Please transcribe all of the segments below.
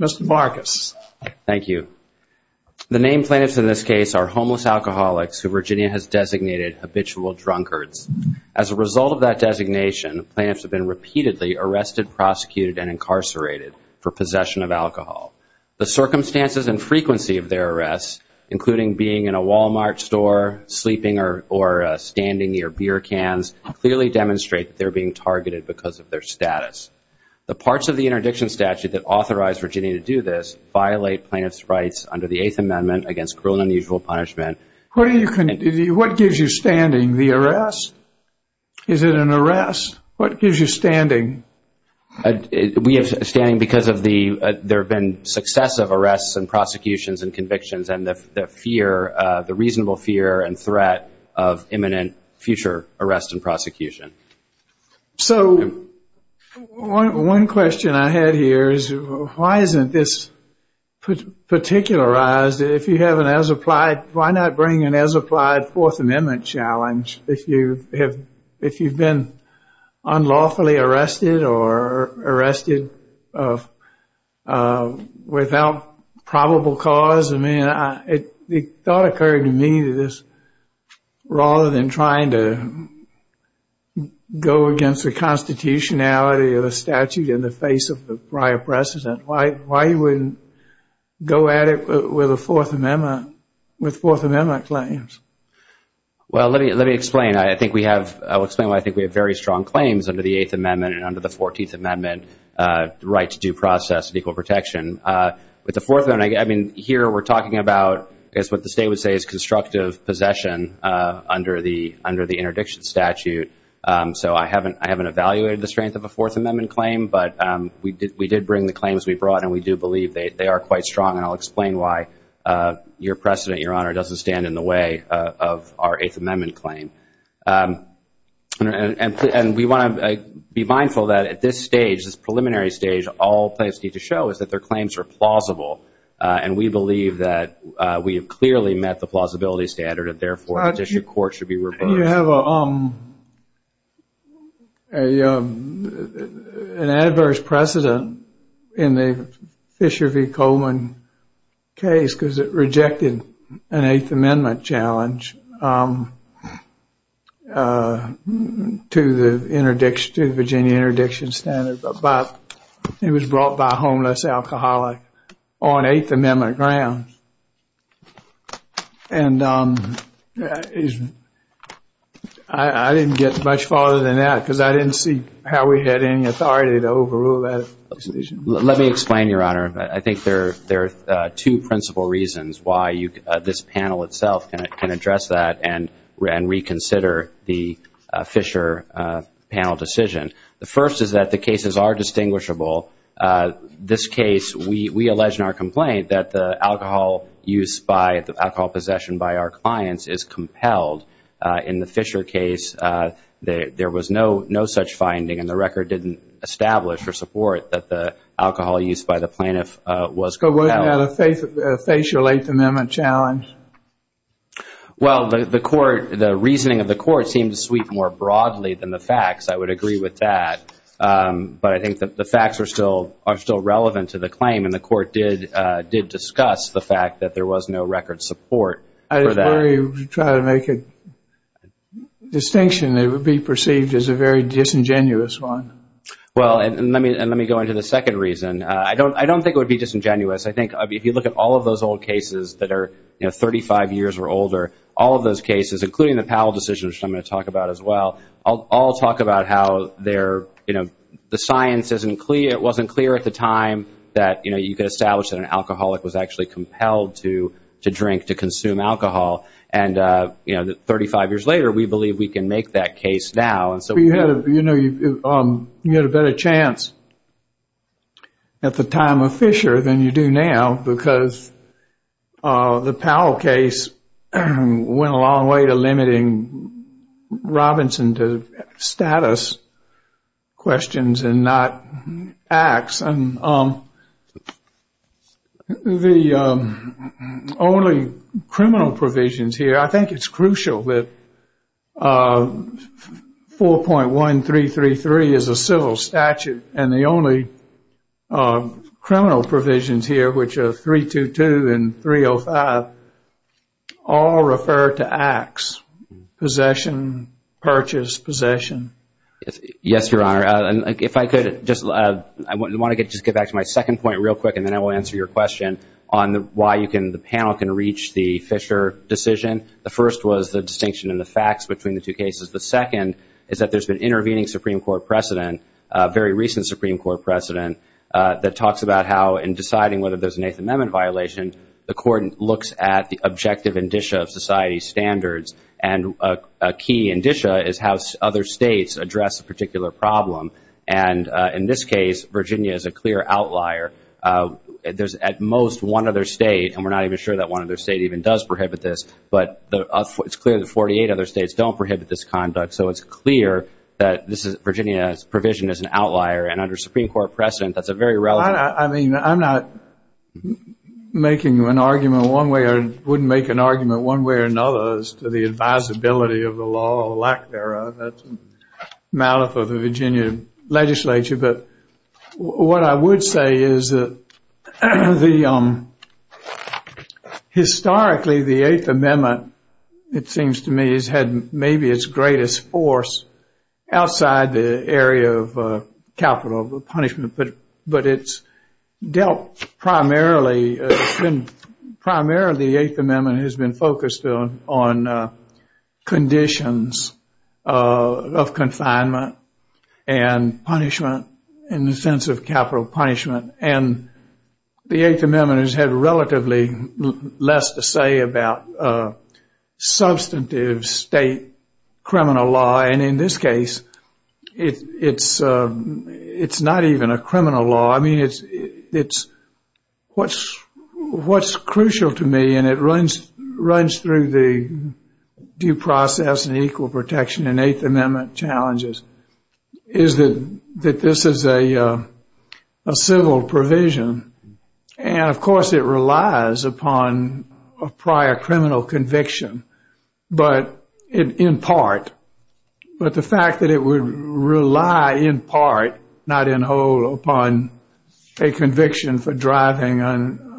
Mr. Marcus. Thank you. The named plaintiffs in this case are homeless alcoholics who Virginia has designated habitual drunkards. As a result of that designation, plaintiffs have been repeatedly arrested, prosecuted, and incarcerated for possession of alcohol. The circumstances and frequency of their arrests, including being in a Walmart store, sleeping or standing near beer cans, clearly demonstrate they're being targeted because of their status. The parts of the interdiction statute that authorized Virginia to do this violate plaintiffs' rights under the Eighth Amendment against cruel and unusual punishment. What gives you standing? The arrest? Is it an arrest? What gives you standing? We have standing because there have been successive arrests and prosecutions and convictions and the fear, the reasonable fear and threat of imminent future arrest and prosecution. So one question I had here is why isn't this particularized? If you have an as-applied, why not bring an as-applied Fourth Amendment challenge if you have, if you've been unlawfully arrested or arrested without probable cause? I mean, the thought occurred to me that this, rather than trying to go against the constitutionality of the statute in the face of the prior precedent, why you wouldn't go at it with a Fourth Amendment, with Fourth Amendment claims? Well, let me let me explain. I think we have, I'll explain why I think we have very strong claims under the Eighth Amendment and under the Fourteenth Amendment right to due process and equal protection. With the Fourth Amendment, I mean, here we're talking about, I guess what the session under the, under the interdiction statute. So I haven't, I haven't evaluated the strength of a Fourth Amendment claim, but we did, we did bring the claims we brought and we do believe they are quite strong and I'll explain why your precedent, Your Honor, doesn't stand in the way of our Eighth Amendment claim. And we want to be mindful that at this stage, this preliminary stage, all plaintiffs need to show is that their claims are plausible. And we believe that we have clearly met the plausibility standard and therefore the district court should be reversed. And you have an adverse precedent in the Fisher v. Coleman case because it rejected an Eighth Amendment challenge to the interdiction, to the Virginia interdiction standard, but it was brought by a plaintiff on Eighth Amendment grounds. And I didn't get much farther than that because I didn't see how we had any authority to overrule that decision. Let me explain, Your Honor. I think there, there are two principal reasons why you, this panel itself can address that and reconsider the Fisher panel decision. The first is that the cases are distinguishable. This case, we allege in our complaint that the alcohol use by, the alcohol possession by our clients is compelled. In the Fisher case, there was no, no such finding and the record didn't establish for support that the alcohol use by the plaintiff was compelled. So, wouldn't that have faced your Eighth Amendment challenge? Well, the court, the reasoning of the court seemed to sweep more broadly than the facts. I would agree with that. But I think that the facts are still, are still relevant to the claim and the court did, did discuss the fact that there was no record support for that. I just worry you try to make a distinction that would be perceived as a very disingenuous one. Well, and let me, and let me go into the second reason. I don't, I don't think it would be disingenuous. I think if you look at all of those old cases that are, you know, 35 years or older, all of those cases, including the Powell decision, which I'm going to talk about as well, all talk about how they're, you know, the science isn't clear. It wasn't clear at the time that, you know, you could establish that an alcoholic was actually compelled to, to drink, to consume alcohol. And, you know, 35 years later, we believe we can make that case now. And so, you know, you had a better chance at the time of Fisher than you do now because the Powell case went a long way to limiting Robinson to status questions and not acts. And the only criminal provisions here, I think it's crucial that 4.1333 is a civil statute. And the only criminal provisions here, which are 322 and 305, all refer to acts, possession, purchase, possession. Yes, Your Honor. And if I could just, I want to get, just get back to my second point real quick, and then I will answer your question on why you can, the panel can reach the Fisher decision. The first was the distinction in the facts between the two cases. The second is that there's been intervening Supreme Court precedent, very recent Supreme Court precedent, that talks about how in deciding whether there's an Eighth Amendment violation, the court looks at the objective indicia of society's standards. And a key indicia is how other states address a particular problem. And in this case, Virginia is a clear outlier. There's at most one other state, and we're not even sure that one other state even does prohibit this, but it's clear the 48 other states don't prohibit this conduct. So it's clear that this is, Virginia's provision is an outlier. And under Supreme Court precedent, that's a very relevant... I mean, I'm not making an argument one way or wouldn't make an argument one way or another as to the advisability of the law or lack thereof. That's a matter for the Virginia legislature. But what I would say is that historically, the Eighth Amendment, it seems to me, has had maybe its greatest force outside the area of capital punishment. But it's dealt primarily, primarily the Eighth Amendment on conditions of confinement and punishment in the sense of capital punishment. And the Eighth Amendment has had relatively less to say about substantive state criminal law. And in this case, it's not even a criminal law. I mean, what's crucial to me, and it runs through the due process and equal protection and Eighth Amendment challenges, is that this is a civil provision. And of course, it relies upon a prior criminal conviction, but in part. But the fact that it would rely in part, not in whole, upon a conviction for driving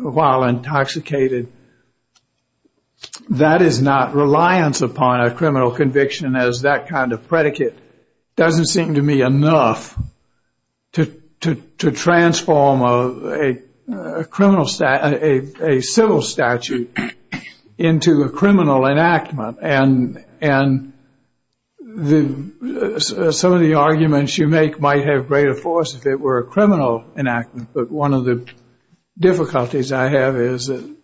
while intoxicated, that is not reliance upon a criminal conviction as that kind of predicate. Doesn't seem to me enough to transform a civil statute into a criminal enactment. And some of the arguments you make might have greater force if it were a criminal enactment. But one of the difficulties I have is, and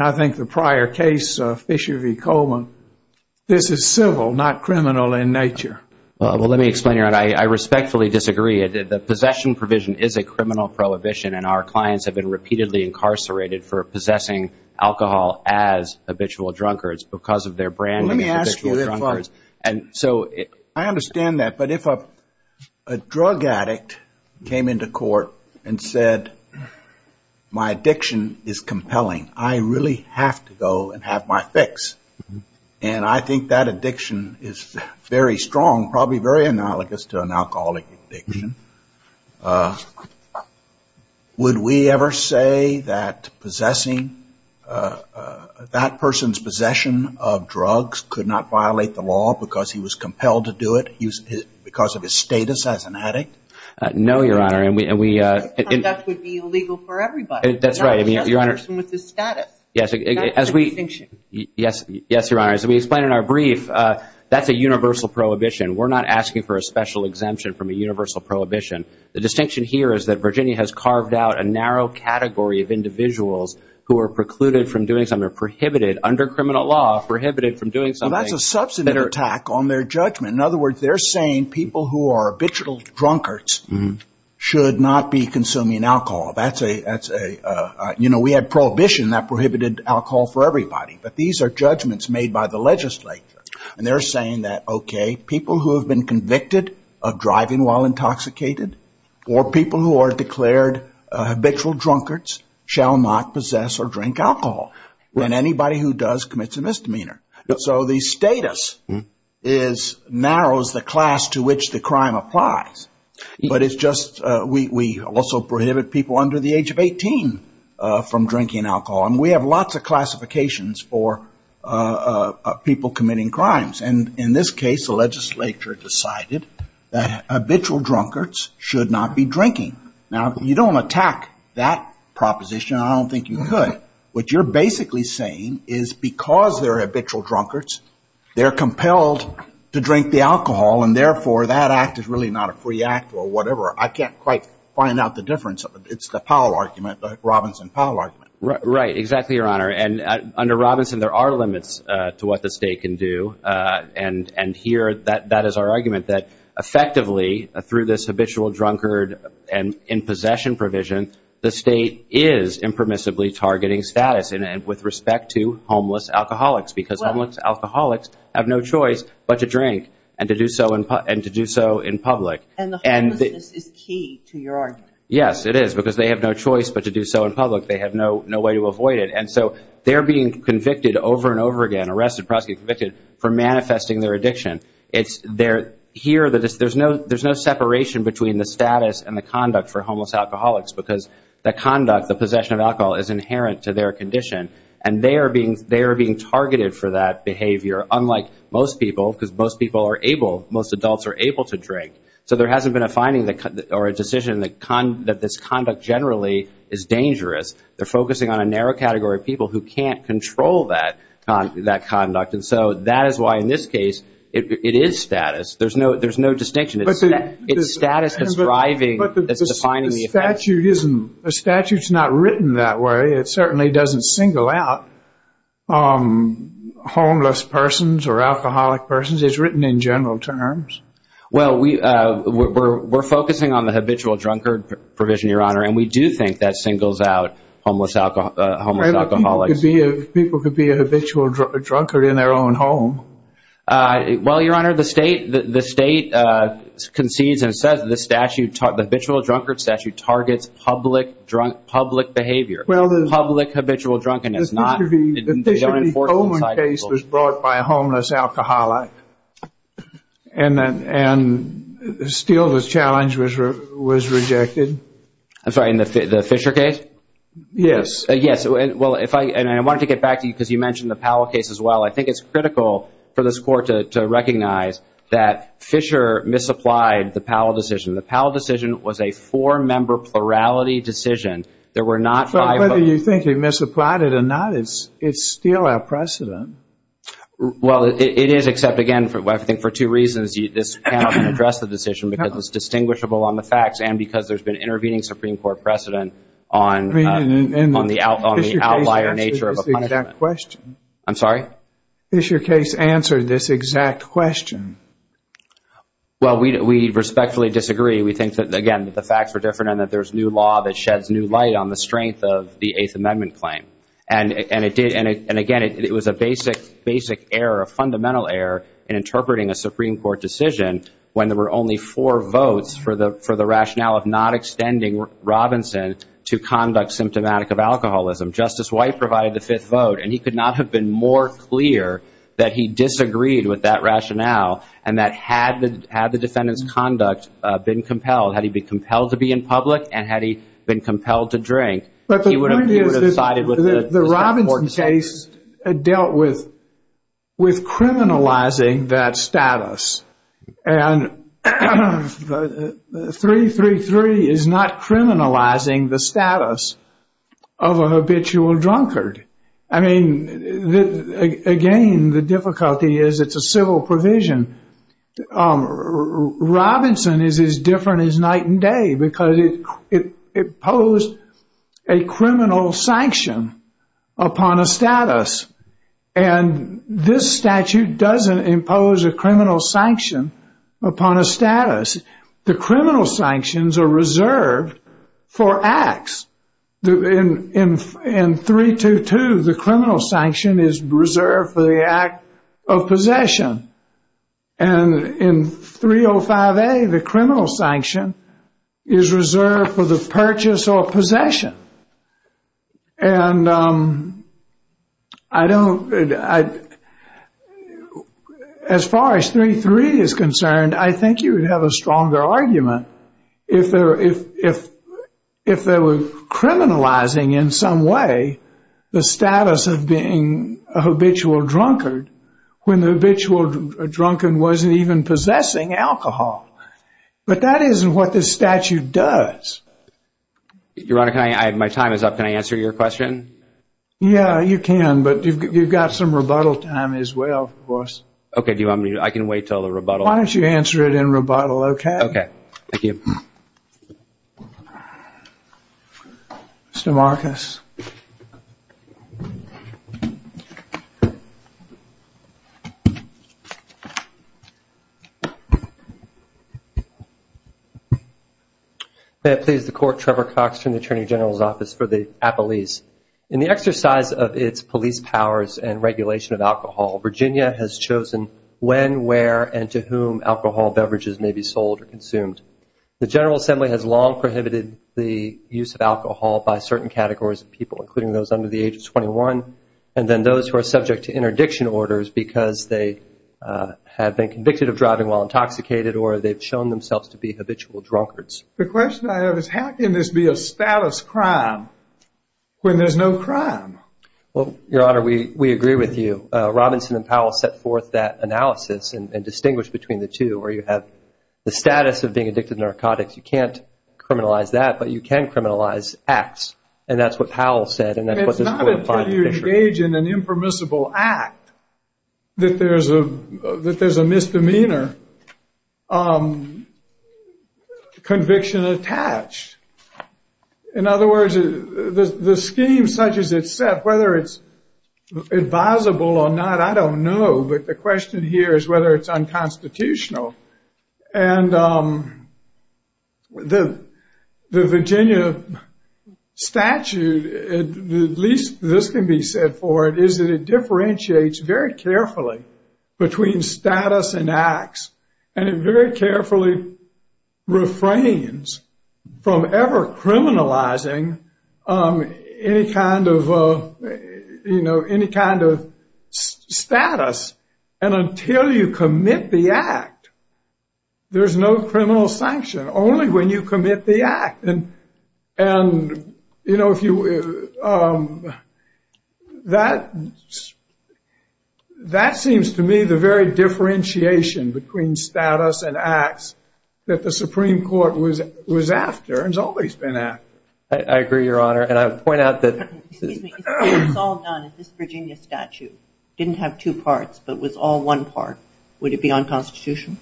I think the prior case of Fisher v. Coleman, this is civil, not criminal in nature. Well, let me explain, Your Honor. I respectfully disagree. The possession provision is a criminal prohibition, and our clients have been repeatedly incarcerated for possessing alcohol as habitual drunkards because of their branding as habitual drunkards. And so I understand that. But if a drug addict came into court and said, my addiction is compelling, I really have to go and have my fix. And I think that addiction is very strong, probably very analogous to an alcoholic addiction. Would we ever say that possessing, that person's possession of drugs could not violate the law because he was compelled to do it because of his status as an addict? No, Your Honor. And we, and we, That conduct would be illegal for everybody. That's right. I mean, Your Honor. Not just the person with the status. Yes, as we, yes, yes, Your Honor. As we explained in our brief, that's a universal prohibition. We're not asking for a special exemption from a universal prohibition. The distinction here is that Virginia has carved out a narrow category of individuals who are precluded from doing something, prohibited under criminal law, prohibited from doing something. That's a substantive attack on their judgment. In other words, they're saying people who are habitual drunkards should not be consuming alcohol. That's a, that's a, you know, we had prohibition that prohibited alcohol for everybody. But these are judgments made by the legislature. And they're saying that, okay, people who have been convicted of driving while intoxicated or people who are declared habitual drunkards shall not possess or drink alcohol. And anybody who does commits a misdemeanor. So the status is, narrows the class to which the crime applies. But it's just, we, we also prohibit people under the age of 18 from drinking alcohol. And we have lots of classifications for people committing crimes. And in this case, the legislature decided that habitual drunkards should not be drinking. Now, you don't attack that proposition. I don't think you could. What you're basically saying is because they're habitual drunkards, they're compelled to drink the alcohol. And therefore, that act is really not a free act or whatever. I can't quite find out the difference. It's the Powell argument, the Robinson Powell argument. Right. Exactly, Your Honor. And under Robinson, there are limits to what the state can do. And, and here, that, that is our argument, that effectively, through this habitual drunkard and in possession provision, the state is impermissibly targeting status. And, and with respect to homeless alcoholics. Because homeless alcoholics have no choice but to drink. And to do so in, and to do so in public. And the homelessness is key to your argument. Yes, it is. Because they have no choice but to do so in public. They have no, no way to avoid it. And so, they're being convicted over and over again. Arrested, convicted for manifesting their addiction. It's, they're, here, there's no, there's no separation between the status and the conduct for homeless alcoholics. Because the conduct, the possession of alcohol, is inherent to their condition. And they are being, they are being targeted for that behavior. Unlike most people, because most people are able, most adults are able to drink. So there hasn't been a finding that, or a decision that, that this conduct generally is dangerous. They're focusing on a narrow category of people who can't control that, that conduct. And so, that is why in this case, it, it is status. There's no, there's no distinction. It's, it's status that's driving, that's defining the effect. The statute isn't, the statute's not written that way. It certainly doesn't single out homeless persons or alcoholic persons. It's written in general terms. Well, we, we're, we're focusing on the habitual drunkard provision, your honor. And we do think that singles out homeless alcohol, homeless alcoholics. People could be a habitual drunk, drunkard in their own home. Well, your honor, the state, the, the state concedes and says the statute, the habitual drunkard statute targets public drunk, public behavior. Well, the. Public habitual drunkenness not. The Fisher v. Coleman case was brought by a homeless alcoholic. And then, and still the challenge was, was rejected. I'm Yes. Well, if I, and I wanted to get back to you, because you mentioned the Powell case as well. I think it's critical for this court to, to recognize that Fisher misapplied the Powell decision. The Powell decision was a four-member plurality decision. There were not five. Whether you think he misapplied it or not, it's, it's still our precedent. Well, it, it is, except again, for, I think for two reasons. This panel can address the decision because it's distinguishable on the facts and because there's been intervening Supreme Court precedent on, on the outlier nature of a punishment. I'm sorry? Fisher case answered this exact question. Well, we, we respectfully disagree. We think that, again, that the facts are different and that there's new law that sheds new light on the strength of the Eighth Amendment claim. And, and it did, and it, and again, it was a basic, basic error, a fundamental error in interpreting a Supreme Court decision when there were only four votes for the, for the rationale of not extending Robinson to conduct symptomatic of alcoholism. Justice White provided the fifth vote and he could not have been more clear that he disagreed with that rationale and that had the, had the defendant's conduct been compelled, had he been compelled to be in public and had he been compelled to drink, he would have sided with the Robinson case dealt with, with criminalizing that status. And 333 is not criminalizing the status of a habitual drunkard. I mean, again, the difficulty is it's a civil provision. Robinson is as different as night and day because it, it, it posed a criminal sanction upon a status. And this statute doesn't impose a criminal sanction upon a status. The criminal sanctions are reserved for acts. In, in, in 322, the criminal sanction is reserved for the purchase or possession. And I don't, I, as far as 333 is concerned, I think you would have a stronger argument if there, if, if, if there were criminalizing in some way the status of being a habitual drunkard when the habitual drunkard wasn't even possessing alcohol. But that isn't what this statute does. Your Honor, can I, my time is up. Can I answer your question? Yeah, you can, but you've, you've got some rebuttal time as well, of course. Okay, do you want me to, I can wait till the rebuttal. Why don't you answer it in rebuttal, okay? Okay, thank you. Mr. Marcus. May it please the Court, Trevor Cox from the Attorney General's Office for the Appellees. In the exercise of its police powers and regulation of alcohol, Virginia has chosen when, where, and to whom alcohol beverages may be sold or used. The General Assembly has long prohibited the use of alcohol by certain categories of people, including those under the age of 21, and then those who are subject to interdiction orders because they have been convicted of driving while intoxicated or they've shown themselves to be habitual drunkards. The question I have is how can this be a status crime when there's no crime? Well, Your Honor, we, we agree with you. Robinson and Powell set forth that analysis and, and distinguished between the two where you have the status of being addicted to narcotics, you can't criminalize that, but you can criminalize acts, and that's what Powell said, and that's what this Court finds to be true. It's not until you engage in an impermissible act that there's a, that there's a misdemeanor conviction attached. In other words, the, the scheme such as it's set, whether it's advisable or not, I don't know, but the question here is whether it's unconstitutional, and the, the Virginia statute, at least this can be said for it, is that it differentiates very carefully between status and acts, and it very carefully refrains from ever criminalizing any kind of, you know, any crime. When you commit the act, there's no criminal sanction, only when you commit the act, and, and, you know, if you, that, that seems to me the very differentiation between status and acts that the Supreme Court was, was after and has always been after. I, I agree, Your Honor, and I would point out that... Excuse me, it's all done in this Virginia statute. It didn't have two parts, but it was all one part. Would it be unconstitutional?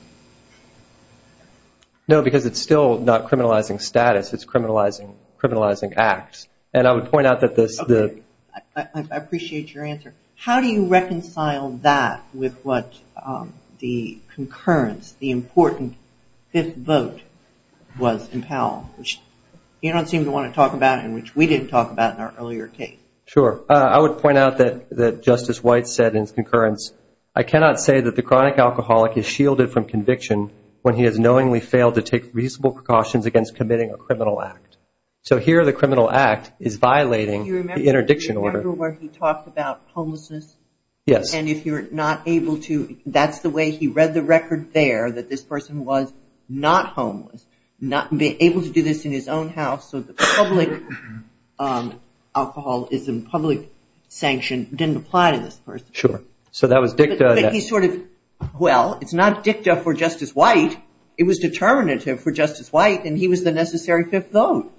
No, because it's still not criminalizing status, it's criminalizing, criminalizing acts, and I would point out that this... Okay, I appreciate your answer. How do you reconcile that with what the concurrence, the important fifth vote was in Powell, which you don't seem to want to talk about and which we didn't talk about in our earlier case. Sure, I would point out that, that Justice White said in his concurrence, I cannot say that the chronic alcoholic is shielded from conviction when he has knowingly failed to take reasonable precautions against committing a criminal act. So here, the criminal act is violating the interdiction order. Do you remember where he talked about homelessness? Yes. And if you're not able to, that's the way he read the record there, that this person was not homeless, not being able to do this in his own house, so the public alcohol is in public sanction didn't apply to this person. Sure, so that was dicta. But he sort of, well, it's not dicta for Justice White, it was determinative for Justice White and he was the necessary fifth vote.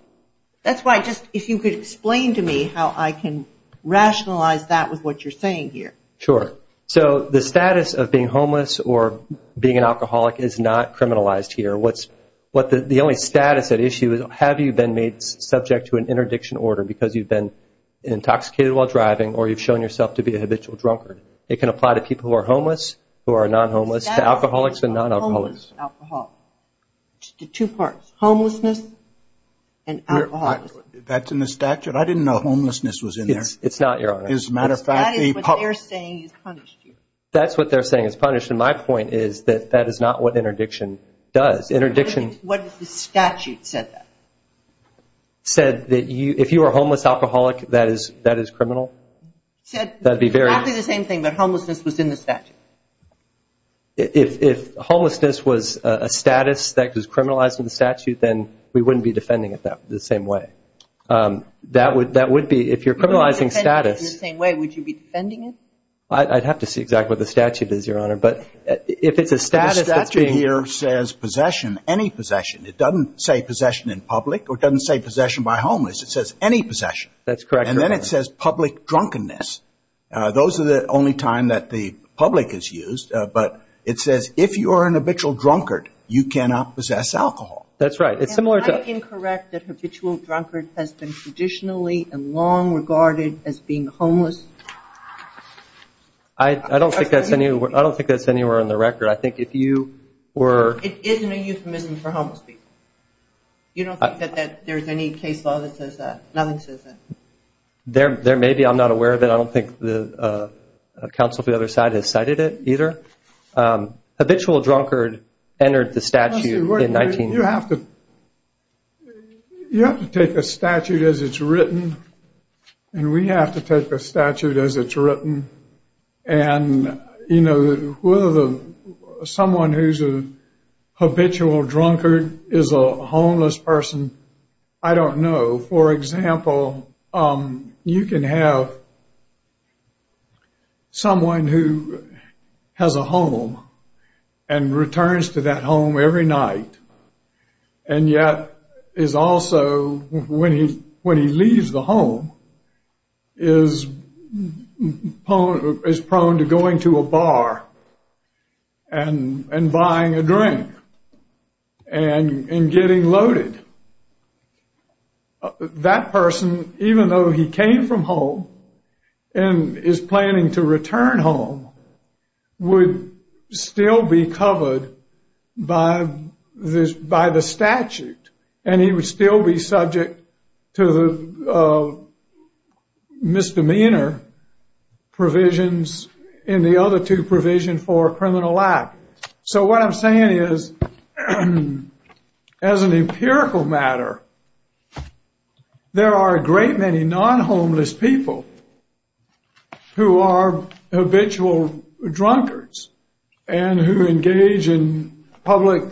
That's why, just, if you could explain to me how I can rationalize that with what you're saying here. Sure. So the status of being homeless or being an alcoholic is not criminalized here. What's, what the only status at issue is, have you been made subject to an interdiction order because you've been intoxicated while driving or you've shown yourself to be a habitual drunkard. It can apply to people who are homeless, who are non-homeless, to alcoholics and non-alcoholics. Homeless and alcoholics. Two parts. Homelessness and alcoholism. That's in the statute? I didn't know homelessness was in there. It's not, Your Honor. As a matter of fact, the public... That is what they're saying is punished here. That's what they're saying is punished, and my point is that that is not what interdiction does. Interdiction... What if the statute said that? ...said that if you are a homeless alcoholic, that is criminal? Said exactly the same thing, but homelessness was in the statute. If homelessness was a status that was criminalized in the statute, then we wouldn't be defending it the same way. That would be, if you're criminalizing status... In the same way, would you be defending it? I'd have to see exactly what the statute is, Your Honor, but if it's a status... ...any possession. It doesn't say possession in public or it doesn't say possession by homeless. It says any possession. That's correct, Your Honor. And then it says public drunkenness. Those are the only time that the public is used, but it says if you are an habitual drunkard, you cannot possess alcohol. That's right. It's similar to... Am I incorrect that habitual drunkard has been traditionally and long regarded as being homeless? I don't think that's anywhere on the record. I think if you were... It isn't a euphemism for homeless people. You don't think that there's any case law that says that? Nothing says that. There may be. I'm not aware of it. I don't think the counsel from the other side has cited it either. Habitual drunkard entered the statute in 19... You have to take a statute as it's written, and we have to take a statute as it's written. And, you know, someone who's a habitual drunkard is a homeless person. I don't know. For example, you can have someone who has a home and is prone to going to a bar and buying a drink and getting loaded. That person, even though he came from home and is planning to return home, would still be misdemeanor provisions in the other two provisions for criminal act. So what I'm saying is, as an empirical matter, there are a great many non-homeless people who are habitual drunkards and who engage in public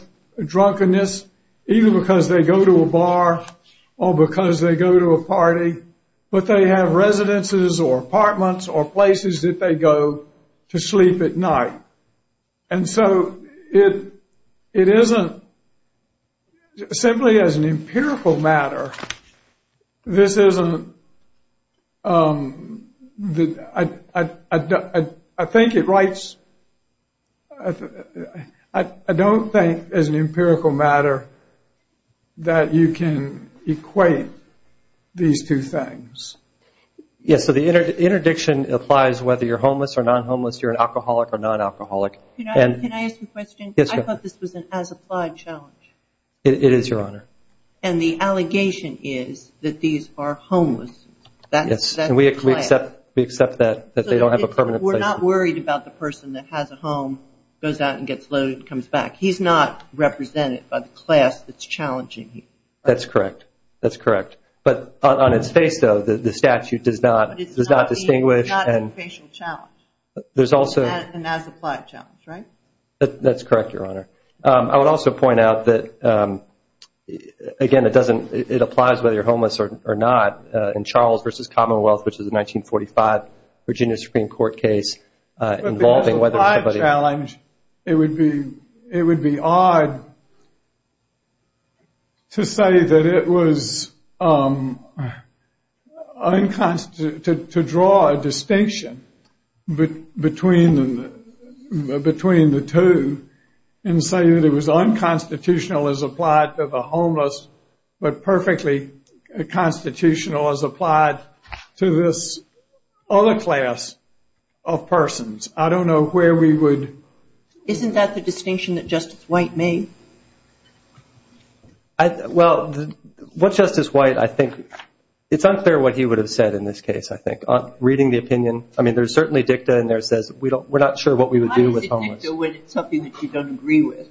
drunkenness even because they go to a bar or because they go to a party, but they have residences or apartments or places that they go to sleep at night. And so it isn't simply as an empirical matter. This isn't... I think it writes... I don't think as an empirical matter that you can equate these two things. Yes, so the interdiction applies whether you're homeless or non-homeless, you're an alcoholic or non-alcoholic. Can I ask a question? Yes, Your Honor. I thought this was an as-applied challenge. It is, Your Honor. And the allegation is that these are homeless. Yes, and we accept that they don't have a permanent place. We're not worried about the person that has a home, goes out and gets loaded and comes back. He's not represented by the class that's challenging him. That's correct. That's correct. But on its face, though, the statute does not distinguish. But it's not an as-applied challenge, right? That's correct, Your Honor. I would also point out that, again, it applies whether you're homeless or not. In Charles v. Commonwealth, which is a 1945 Virginia Supreme Court case involving whether somebody... But the as-applied challenge, it would be odd to say that it was unconstitutional... to draw a distinction between the two and say that it was unconstitutional as applied to the homeless, but perfectly constitutional as applied to this other class of persons. I don't know where we would... Isn't that the distinction that Justice White made? Well, what Justice White, I think... It's unclear what he would have said in this case, I think. Reading the opinion, I mean, there's certainly dicta in there that says we're not sure what we would do with homeless. Why is it dicta when it's something that you don't agree with?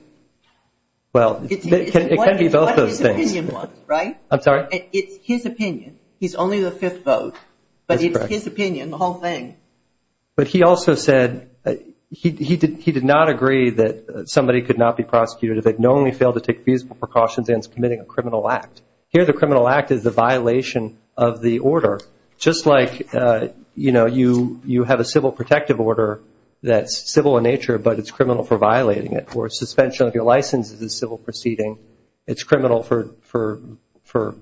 Well, it can be both of those things. It's what his opinion was, right? I'm sorry? It's his opinion. He's only the fifth vote, but it's his opinion, the whole thing. But he also said he did not agree that somebody could not be prosecuted if they'd knownly failed to take feasible precautions against committing a criminal act. Here, the criminal act is a violation of the order, just like, you know, you have a civil protective order that's civil in nature, but it's criminal for violating it. Or a suspension of your license is a civil proceeding. It's criminal for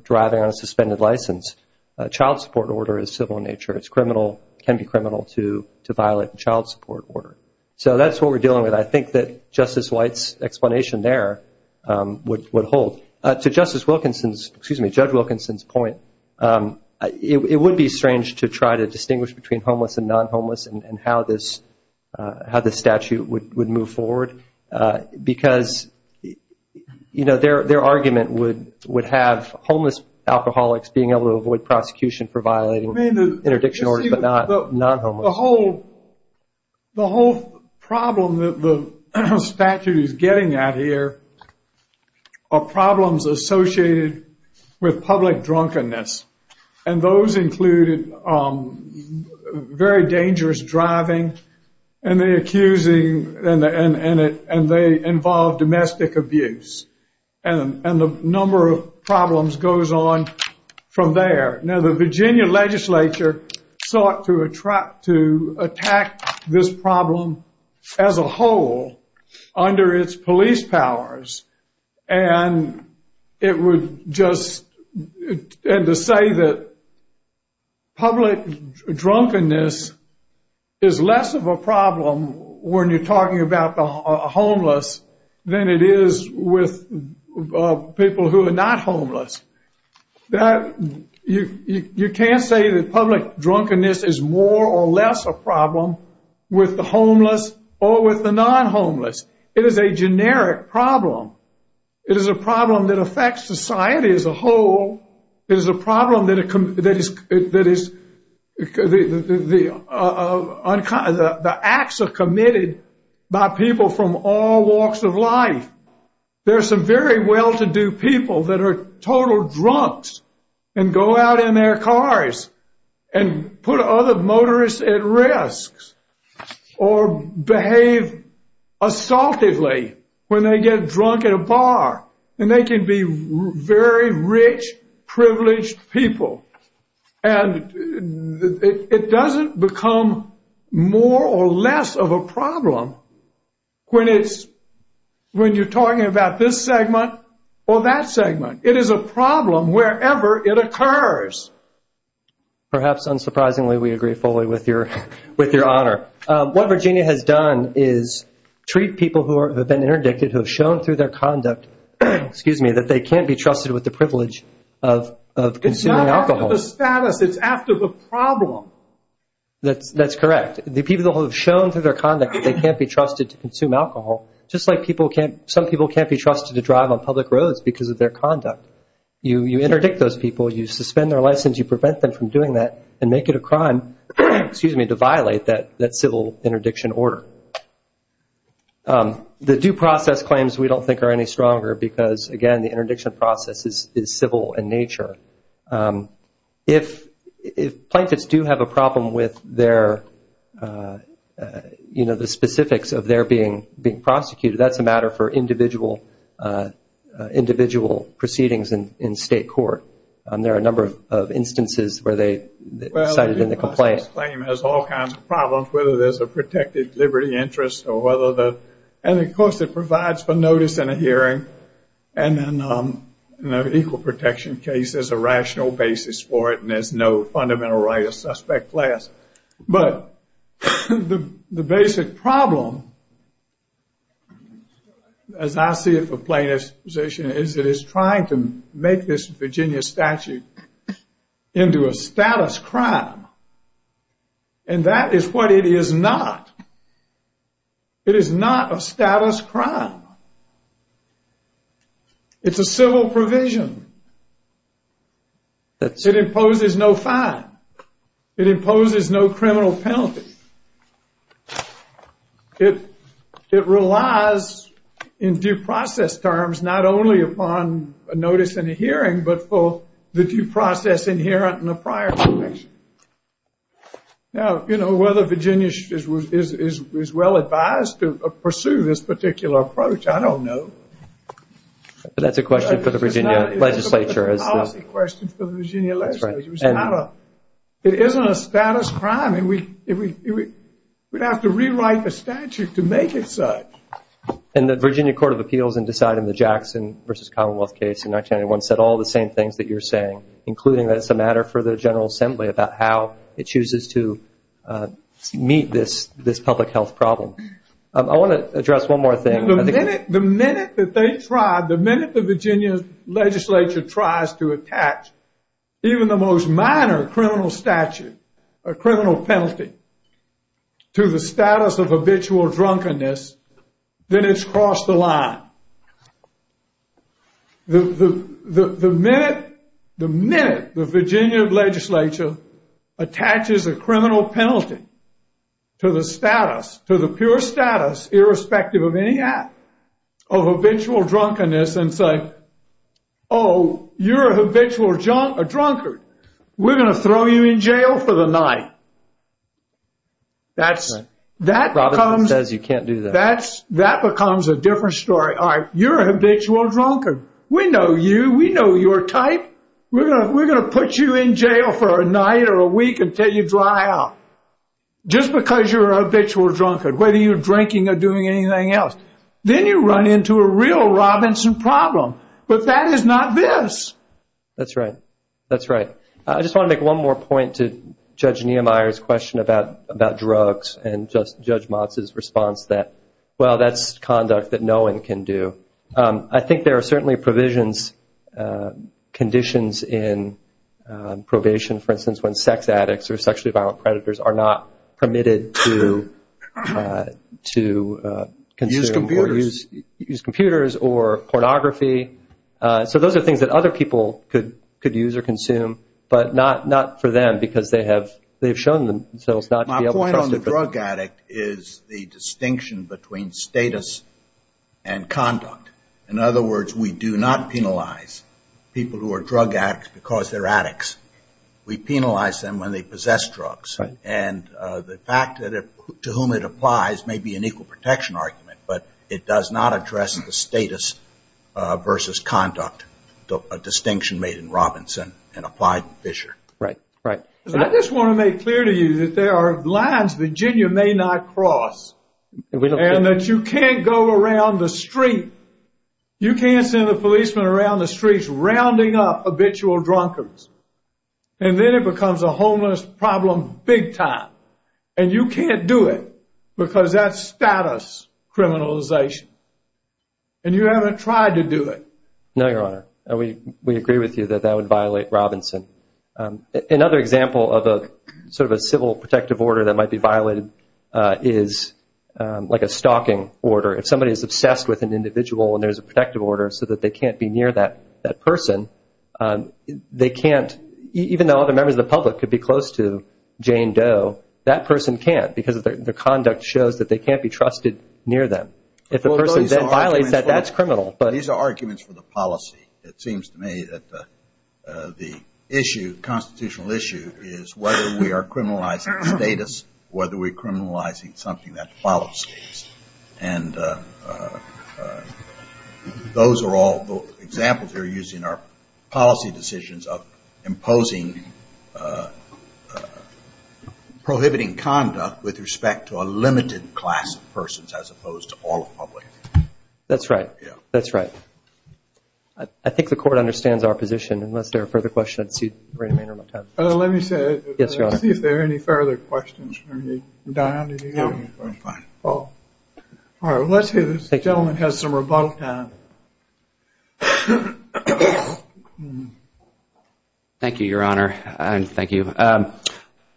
driving on a suspended license. A child support order is civil in nature. It can be criminal to violate a child support order. So that's what we're dealing with. I think that Justice White's explanation there would hold. To Justice Wilkinson's, excuse me, Judge Wilkinson's point, it would be strange to try to distinguish between homeless and non-homeless and how this statute would move forward. Because, you know, their argument would have homeless alcoholics being able to avoid prosecution for violating interdiction orders, but not non-homeless. The whole problem that the statute is getting at here are problems associated with public drunkenness. And those included very dangerous driving and the accusing, and they involve domestic abuse. And the number of problems goes on from there. Now, the Virginia legislature sought to attack this problem as a whole under its police powers. And it would just, and to say that public drunkenness is less of a problem when you're talking about the homeless than it is with people who are not homeless. You can't say that public drunkenness is more or less a problem with the homeless or with the non-homeless. It is a generic problem. It is a problem that affects society as a whole. It is a problem that is, the acts are committed by people from all walks of life. There are some very well-to-do people that are total drunks and go out in their cars and put other motorists at risk or behave assultively when they get drunk at a bar. And they can be very rich, privileged people. And it doesn't become more or less of a problem when you're talking about this segment or that segment. It is a problem wherever it occurs. Perhaps unsurprisingly, we agree fully with your honor. What Virginia has done is treat people who have been interdicted, who have shown through their conduct that they can't be trusted with the privilege of consuming alcohol. It's not after the status, it's after the problem. That's correct. The people who have shown through their conduct that they can't be trusted to consume alcohol, just like some people can't be trusted to drive on public roads because of their conduct. You interdict those people. You suspend their license. You prevent them from doing that and make it a crime to violate that civil interdiction order. The due process claims we don't think are any stronger because, again, the interdiction process is civil in nature. If plaintiffs do have a problem with the specifics of their being prosecuted, that's a matter for individual proceedings in state court. There are a number of instances where they cited in the complaint. Well, the due process claim has all kinds of problems, whether there's a protected liberty interest. And, of course, it provides for notice in a hearing and an equal protection case as a rational basis for it. There's no fundamental right of suspect class. But the basic problem, as I see it for plaintiffs' position, is it is trying to make this Virginia statute into a status crime. And that is what it is not. It is not a status crime. It's a civil provision. It imposes no fine. It imposes no criminal penalty. It relies in due process terms not only upon a notice in a hearing, but for the due process inherent in the prior conviction. Now, you know, whether Virginia is well advised to pursue this particular approach, I don't know. But that's a question for the Virginia legislature. It's a policy question for the Virginia legislature. It isn't a status crime. We'd have to rewrite the statute to make it such. And the Virginia Court of Appeals in deciding the Jackson v. Commonwealth case in 1991 said all the same things that you're saying, including that it's a matter for the General Assembly about how it chooses to meet this public health problem. I want to address one more thing. The minute that they tried, the minute the Virginia legislature tries to attach even the most minor criminal statute, a criminal penalty to the status of habitual drunkenness, then it's crossed the line. The minute the Virginia legislature attaches a criminal penalty to the status, to the pure status, irrespective of any act, of habitual drunkenness and say, oh, you're a habitual drunkard. We're going to throw you in jail for the night. That becomes a different story. All right, you're a habitual drunkard. We know you. We know your type. We're going to put you in jail for a night or a week until you dry out. Just because you're a habitual drunkard, whether you're drinking or doing anything else, then you run into a real Robinson problem. But that is not this. That's right. That's right. I just want to make one more point to Judge Nehemiah's question about drugs and Judge Motz's response that, well, that's conduct that no one can do. I think there are certainly provisions, conditions in probation, for instance, when sex addicts or sexually violent predators are not permitted to consume or use computers or pornography. So those are things that other people could use or consume, but not for them because they have shown themselves not to be able to trust it. My point on the drug addict is the distinction between status and conduct. In other words, we do not penalize people who are drug addicts because they're addicts. We penalize them when they possess drugs. And the fact to whom it applies may be an equal protection argument, but it does not address the status versus conduct distinction made in Robinson and applied in Fisher. Right. Right. I just want to make clear to you that there are lines Virginia may not cross and that you can't go around the street, you can't send a policeman around the streets rounding up habitual drunkards, and then it becomes a homeless problem big time. And you can't do it because that's status criminalization. And you haven't tried to do it. No, Your Honor. We agree with you that that would violate Robinson. Another example of a sort of a civil protective order that might be violated is like a stalking order. If somebody is obsessed with an individual and there's a protective order so that they can't be near that person, they can't, even though other members of the public could be close to Jane Doe, that person can't because the conduct shows that they can't be trusted near them. If the person violates that, that's criminal. These are arguments for the policy. It seems to me that the issue, constitutional issue, is whether we are criminalizing status, whether we are criminalizing something that violates status. And those are all examples that are used in our policy decisions of imposing, prohibiting conduct with respect to a limited class of persons as opposed to all the public. That's right. Yeah. That's right. I think the Court understands our position. Unless there are further questions, I'd like to see the remainder of my time. Let me say. Yes, Your Honor. Let's see if there are any further questions. Don, do you have any further questions? No, I'm fine. All right. Let's see if this gentleman has some rebuttal time. Thank you, Your Honor, and thank you.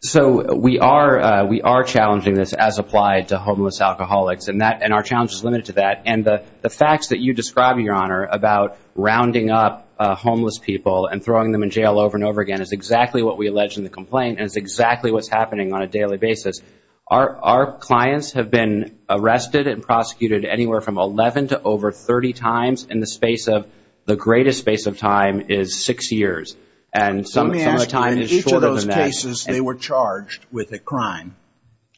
So we are challenging this as applied to homeless alcoholics, and our challenge is limited to that. And the facts that you describe, Your Honor, about rounding up homeless people and throwing them in jail over and over again is exactly what we allege in the complaint, and it's exactly what's happening on a daily basis. Our clients have been arrested and prosecuted anywhere from 11 to over 30 times in the space of, the greatest space of time is six years, and some of the time is shorter than that. Let me ask you, in each of those cases, they were charged with a crime,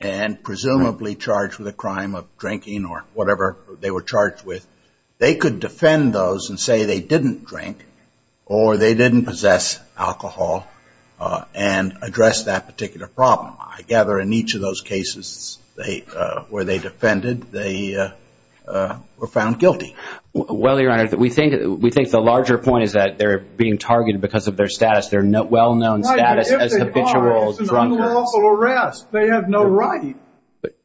and presumably charged with a crime of drinking or whatever they were charged with. They could defend those and say they didn't drink or they didn't possess alcohol and address that particular problem. I gather in each of those cases where they defended, they were found guilty. Well, Your Honor, we think the larger point is that they're being targeted because of their status, their well-known status as habitual drunkards. It's an unlawful arrest. They have no right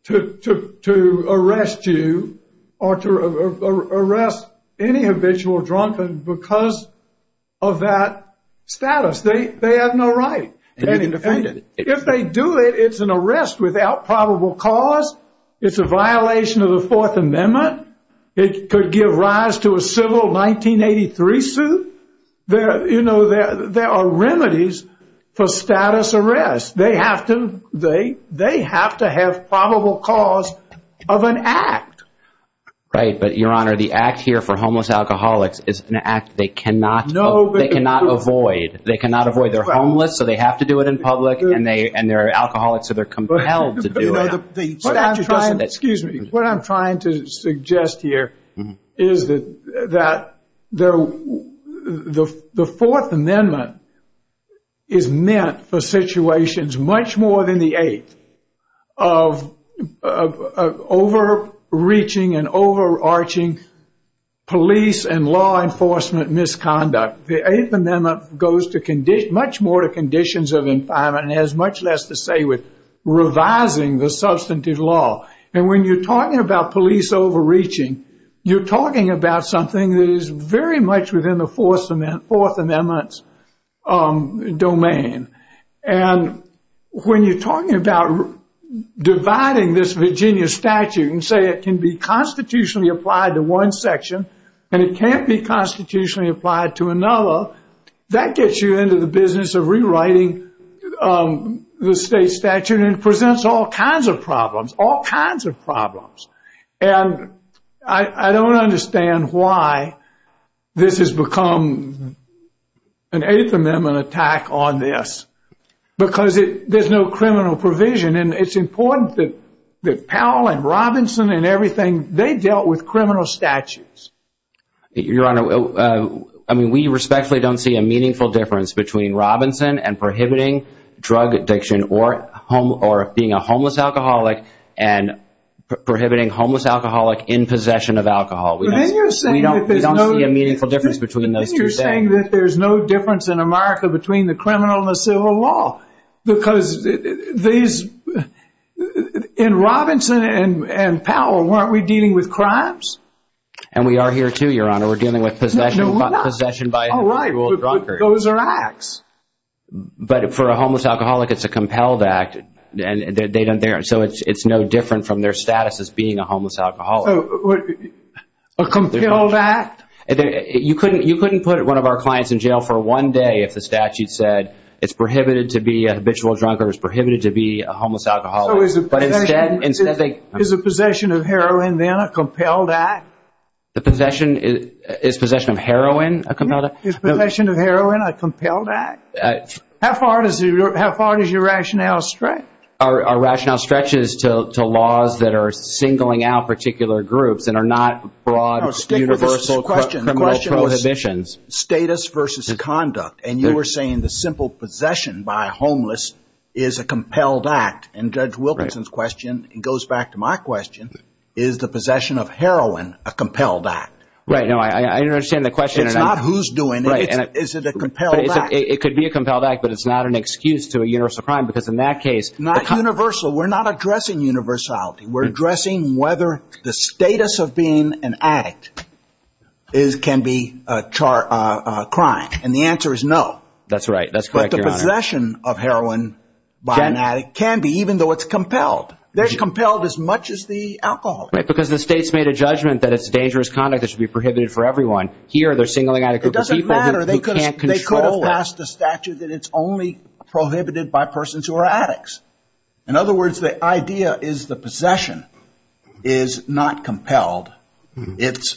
to arrest you or to arrest any habitual drunkard because of that status. They have no right. And if they do it, it's an arrest without probable cause. It's a violation of the Fourth Amendment. It could give rise to a civil 1983 suit. There are remedies for status arrests. They have to have probable cause of an act. Right, but, Your Honor, the act here for homeless alcoholics is an act they cannot avoid. They cannot avoid. They're homeless, so they have to do it in public, and they're alcoholics, so they're compelled to do it. Excuse me. What I'm trying to suggest here is that the Fourth Amendment is meant for situations much more than the Eighth of overreaching and overarching police and law enforcement misconduct. The Eighth Amendment goes much more to conditions of confinement and has much less to say with revising the substantive law. And when you're talking about police overreaching, you're talking about something that is very much within the Fourth Amendment's domain. And when you're talking about dividing this Virginia statute and say it can be constitutionally applied to one section and it can't be constitutionally applied to another, that gets you into the business of rewriting the state statute and presents all kinds of problems, all kinds of problems. And I don't understand why this has become an Eighth Amendment attack on this because there's no criminal provision. And it's important that Powell and Robinson and everything, they dealt with criminal statutes. Your Honor, I mean, we respectfully don't see a meaningful difference between Robinson and prohibiting drug addiction or being a homeless alcoholic and prohibiting homeless alcoholic in possession of alcohol. We don't see a meaningful difference between those two things. Then you're saying that there's no difference in America between the criminal and the civil law because in Robinson and Powell, weren't we dealing with crimes? And we are here too, Your Honor. We're dealing with possession by a homeless drunkard. Those are acts. But for a homeless alcoholic, it's a compelled act. So it's no different from their status as being a homeless alcoholic. A compelled act? You couldn't put one of our clients in jail for one day if the statute said it's prohibited to be a habitual drunkard, it's prohibited to be a homeless alcoholic. So is the possession of heroin then a compelled act? Is possession of heroin a compelled act? Is possession of heroin a compelled act? How far does your rationale stretch? Our rationale stretches to laws that are singling out particular groups and are not broad universal criminal prohibitions. The question was status versus conduct. And you were saying the simple possession by a homeless is a compelled act. And Judge Wilkinson's question goes back to my question. Is the possession of heroin a compelled act? Right. No, I understand the question. It's not who's doing it. Is it a compelled act? It could be a compelled act, but it's not an excuse to a universal crime because in that case. Not universal. We're not addressing universality. We're addressing whether the status of being an addict can be a crime. And the answer is no. That's right. That's correct, Your Honor. The possession of heroin by an addict can be, even though it's compelled. They're compelled as much as the alcoholics. Right, because the state's made a judgment that it's dangerous conduct that should be prohibited for everyone. Here they're singling out a group of people who can't control it. It doesn't matter. They could have passed a statute that it's only prohibited by persons who are addicts. In other words, the idea is the possession is not compelled.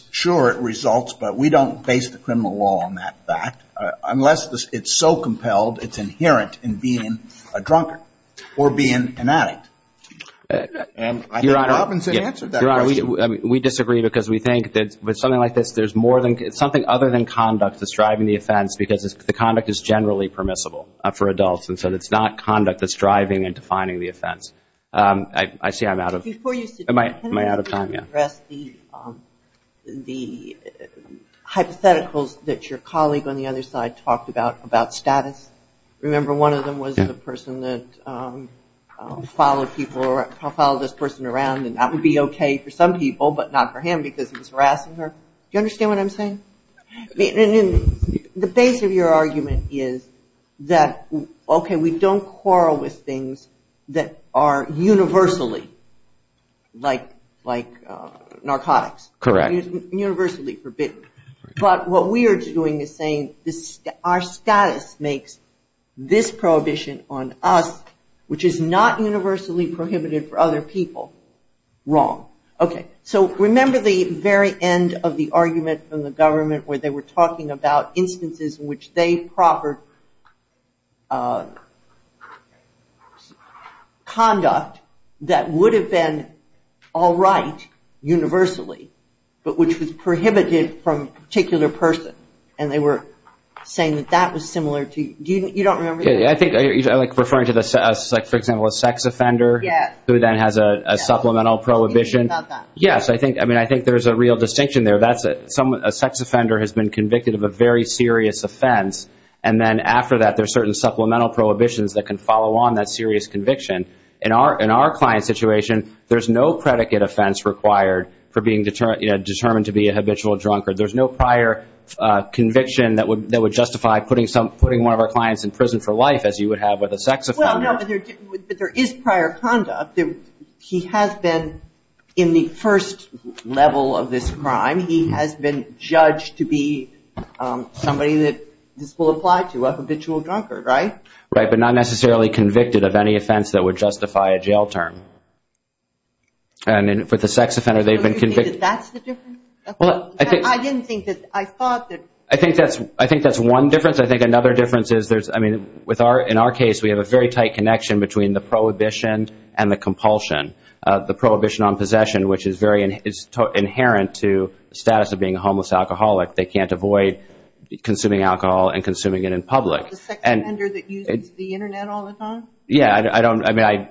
Sure, it results, but we don't base the criminal law on that fact. Unless it's so compelled it's inherent in being a drunkard or being an addict. And I think Robinson answered that question. Your Honor, we disagree because we think that with something like this, there's more than – something other than conduct that's driving the offense because the conduct is generally permissible for adults, and so it's not conduct that's driving and defining the offense. I see I'm out of time. I want to address the hypotheticals that your colleague on the other side talked about, about status. Remember one of them was the person that followed people or followed this person around and that would be okay for some people, but not for him because he was harassing her. Do you understand what I'm saying? The base of your argument is that, okay, we don't quarrel with things that are universally like narcotics. Correct. Universally forbidden. But what we are doing is saying our status makes this prohibition on us, which is not universally prohibited for other people, wrong. Okay, so remember the very end of the argument from the government where they were talking about instances in which they proffered conduct that would have been all right universally, but which was prohibited from a particular person, and they were saying that that was similar to – you don't remember that? I think referring to, for example, a sex offender who then has a supplemental prohibition. Yes, I think there's a real distinction there. A sex offender has been convicted of a very serious offense, and then after that there's certain supplemental prohibitions that can follow on that serious conviction. In our client's situation, there's no predicate offense required for being determined to be a habitual drunkard. There's no prior conviction that would justify putting one of our clients in prison for life, as you would have with a sex offender. But there is prior conduct. He has been, in the first level of this crime, he has been judged to be somebody that this will apply to, a habitual drunkard, right? Right, but not necessarily convicted of any offense that would justify a jail term. And for the sex offender, they've been convicted – So you think that that's the difference? I didn't think that – I thought that – I think that's one difference. I think another difference is there's – I mean, in our case, we have a very tight connection between the prohibition and the compulsion. The prohibition on possession, which is very – it's inherent to the status of being a homeless alcoholic. They can't avoid consuming alcohol and consuming it in public. The sex offender that uses the Internet all the time? Yeah, I don't – I mean,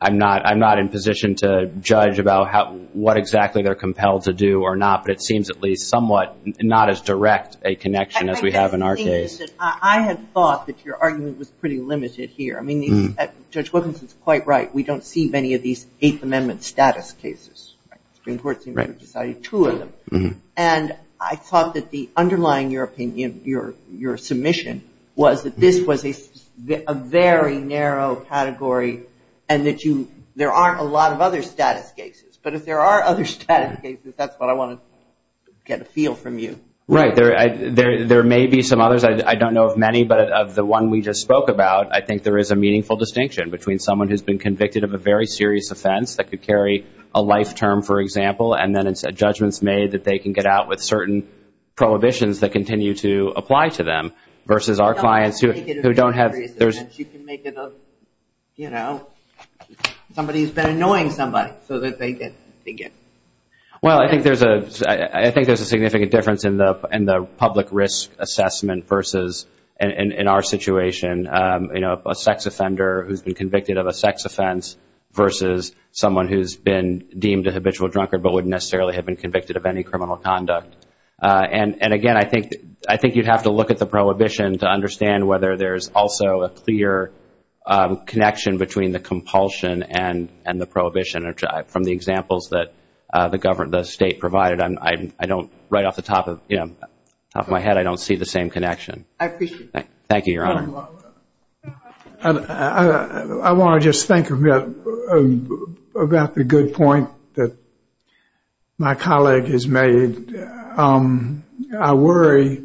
I'm not in position to judge about what exactly they're compelled to do or not, but it seems at least somewhat not as direct a connection as we have in our case. Listen, I had thought that your argument was pretty limited here. I mean, Judge Wilkinson's quite right. We don't see many of these Eighth Amendment status cases. The Supreme Court seems to have decided two of them. And I thought that the underlying – your submission was that this was a very narrow category and that you – there aren't a lot of other status cases. But if there are other status cases, that's what I want to get a feel from you. Right. There may be some others. I don't know of many, but of the one we just spoke about, I think there is a meaningful distinction between someone who's been convicted of a very serious offense that could carry a life term, for example, and then judgments made that they can get out with certain prohibitions that continue to apply to them versus our clients who don't have – You can make it a – you know, somebody's been annoying somebody so that they get – Well, I think there's a significant difference in the public risk assessment versus, in our situation, you know, a sex offender who's been convicted of a sex offense versus someone who's been deemed a habitual drunkard but wouldn't necessarily have been convicted of any criminal conduct. And again, I think you'd have to look at the prohibition to understand whether there's also a clear connection between the compulsion and the prohibition. From the examples that the state provided, I don't – right off the top of my head, I don't see the same connection. I appreciate that. Thank you, Your Honor. I want to just think about the good point that my colleague has made. I worry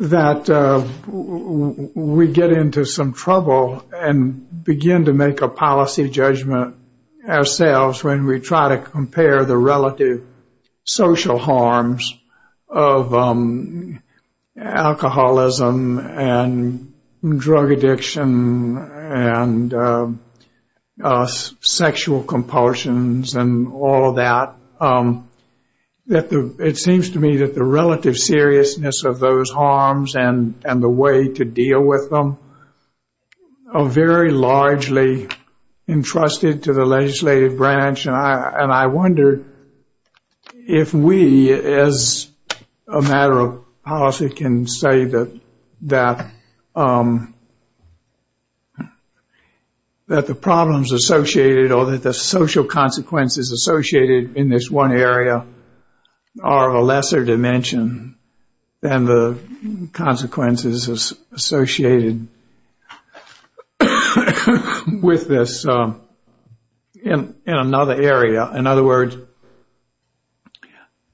that we get into some trouble and begin to make a policy judgment ourselves when we try to compare the relative social harms of alcoholism and drug addiction and sexual compulsions and all that. It seems to me that the relative seriousness of those harms and the way to deal with them are very largely entrusted to the legislative branch. And I wonder if we, as a matter of policy, can say that the problems associated or that the social consequences associated in this one area are of a lesser dimension than the consequences associated with this in another area. In other words,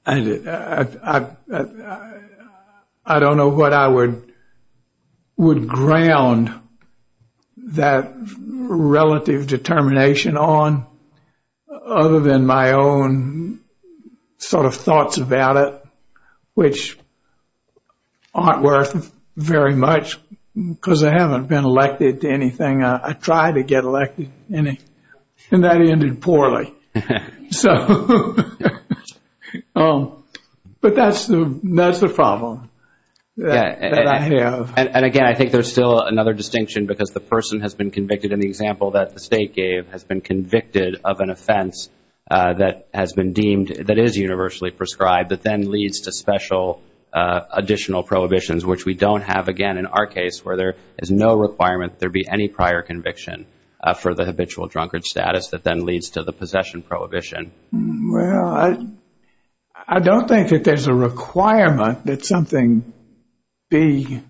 I don't know what I would ground that relative determination on other than my own sort of thoughts about it, which aren't worth very much because I haven't been elected to anything. I tried to get elected, and that ended poorly. But that's the problem that I have. And again, I think there's still another distinction because the person has been convicted and the example that the State gave has been convicted of an offense that has been deemed that is universally prescribed that then leads to special additional prohibitions, which we don't have again in our case where there is no requirement that there be any prior conviction for the habitual drunkard status that then leads to the possession prohibition. Well, I don't think that there's a requirement that something be,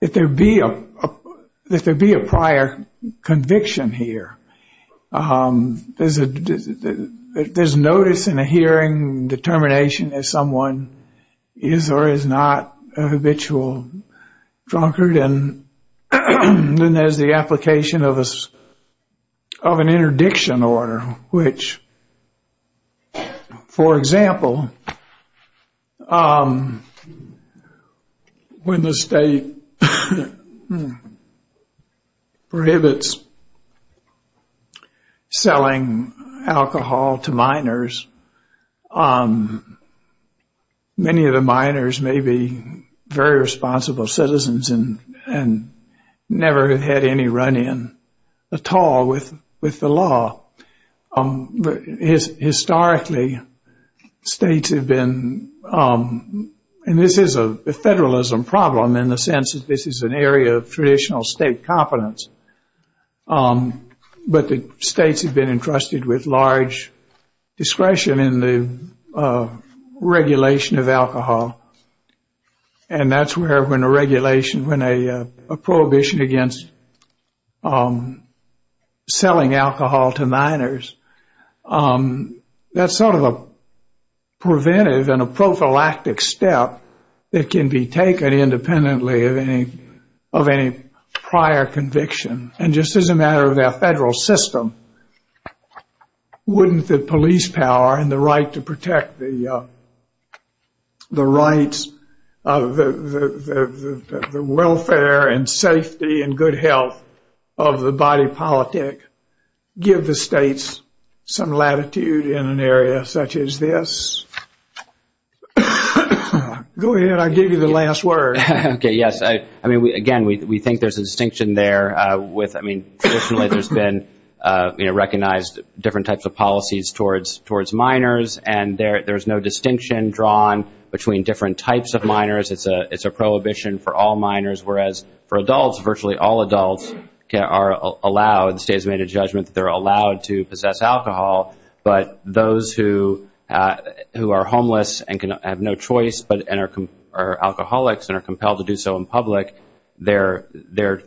that there be a prior conviction here. There's notice in a hearing determination if someone is or is not a habitual drunkard, then there's the application of an interdiction order, which, for example, when the State prohibits selling alcohol to minors, many of the minors may be very responsible citizens and never have had any run-in at all with the law. Historically, states have been, and this is a federalism problem in the sense that this is an area of traditional state competence, but the states have been entrusted with large discretion in the regulation of alcohol, and that's where when a regulation, when a prohibition against selling alcohol to minors, that's sort of a preventive and a prophylactic step that can be taken independently of any prior conviction. And just as a matter of their federal system, wouldn't the police power and the right to protect the rights of the welfare and safety and good health of the body politic give the states some latitude in an area such as this? Go ahead. I gave you the last word. Okay, yes. I mean, again, we think there's a distinction there with, I mean, traditionally there's been recognized different types of policies towards minors, and there's no distinction drawn between different types of minors. It's a prohibition for all minors, whereas for adults, virtually all adults are allowed, the state has made a judgment that they're allowed to possess alcohol, but those who are homeless and have no choice and are alcoholics and are compelled to do so in public, they're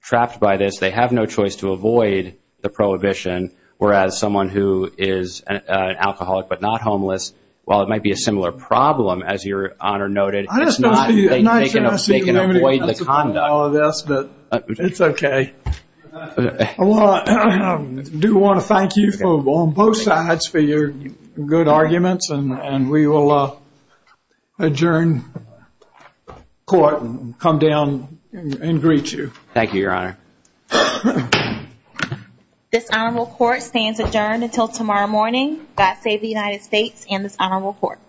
trapped by this. They have no choice to avoid the prohibition, whereas someone who is an alcoholic but not homeless, while it might be a similar problem, as your Honor noted, it's not taken away from the conduct. It's okay. I do want to thank you on both sides for your good arguments, and we will adjourn court and come down and greet you. Thank you, Your Honor. This honorable court stands adjourned until tomorrow morning. God save the United States and this honorable court.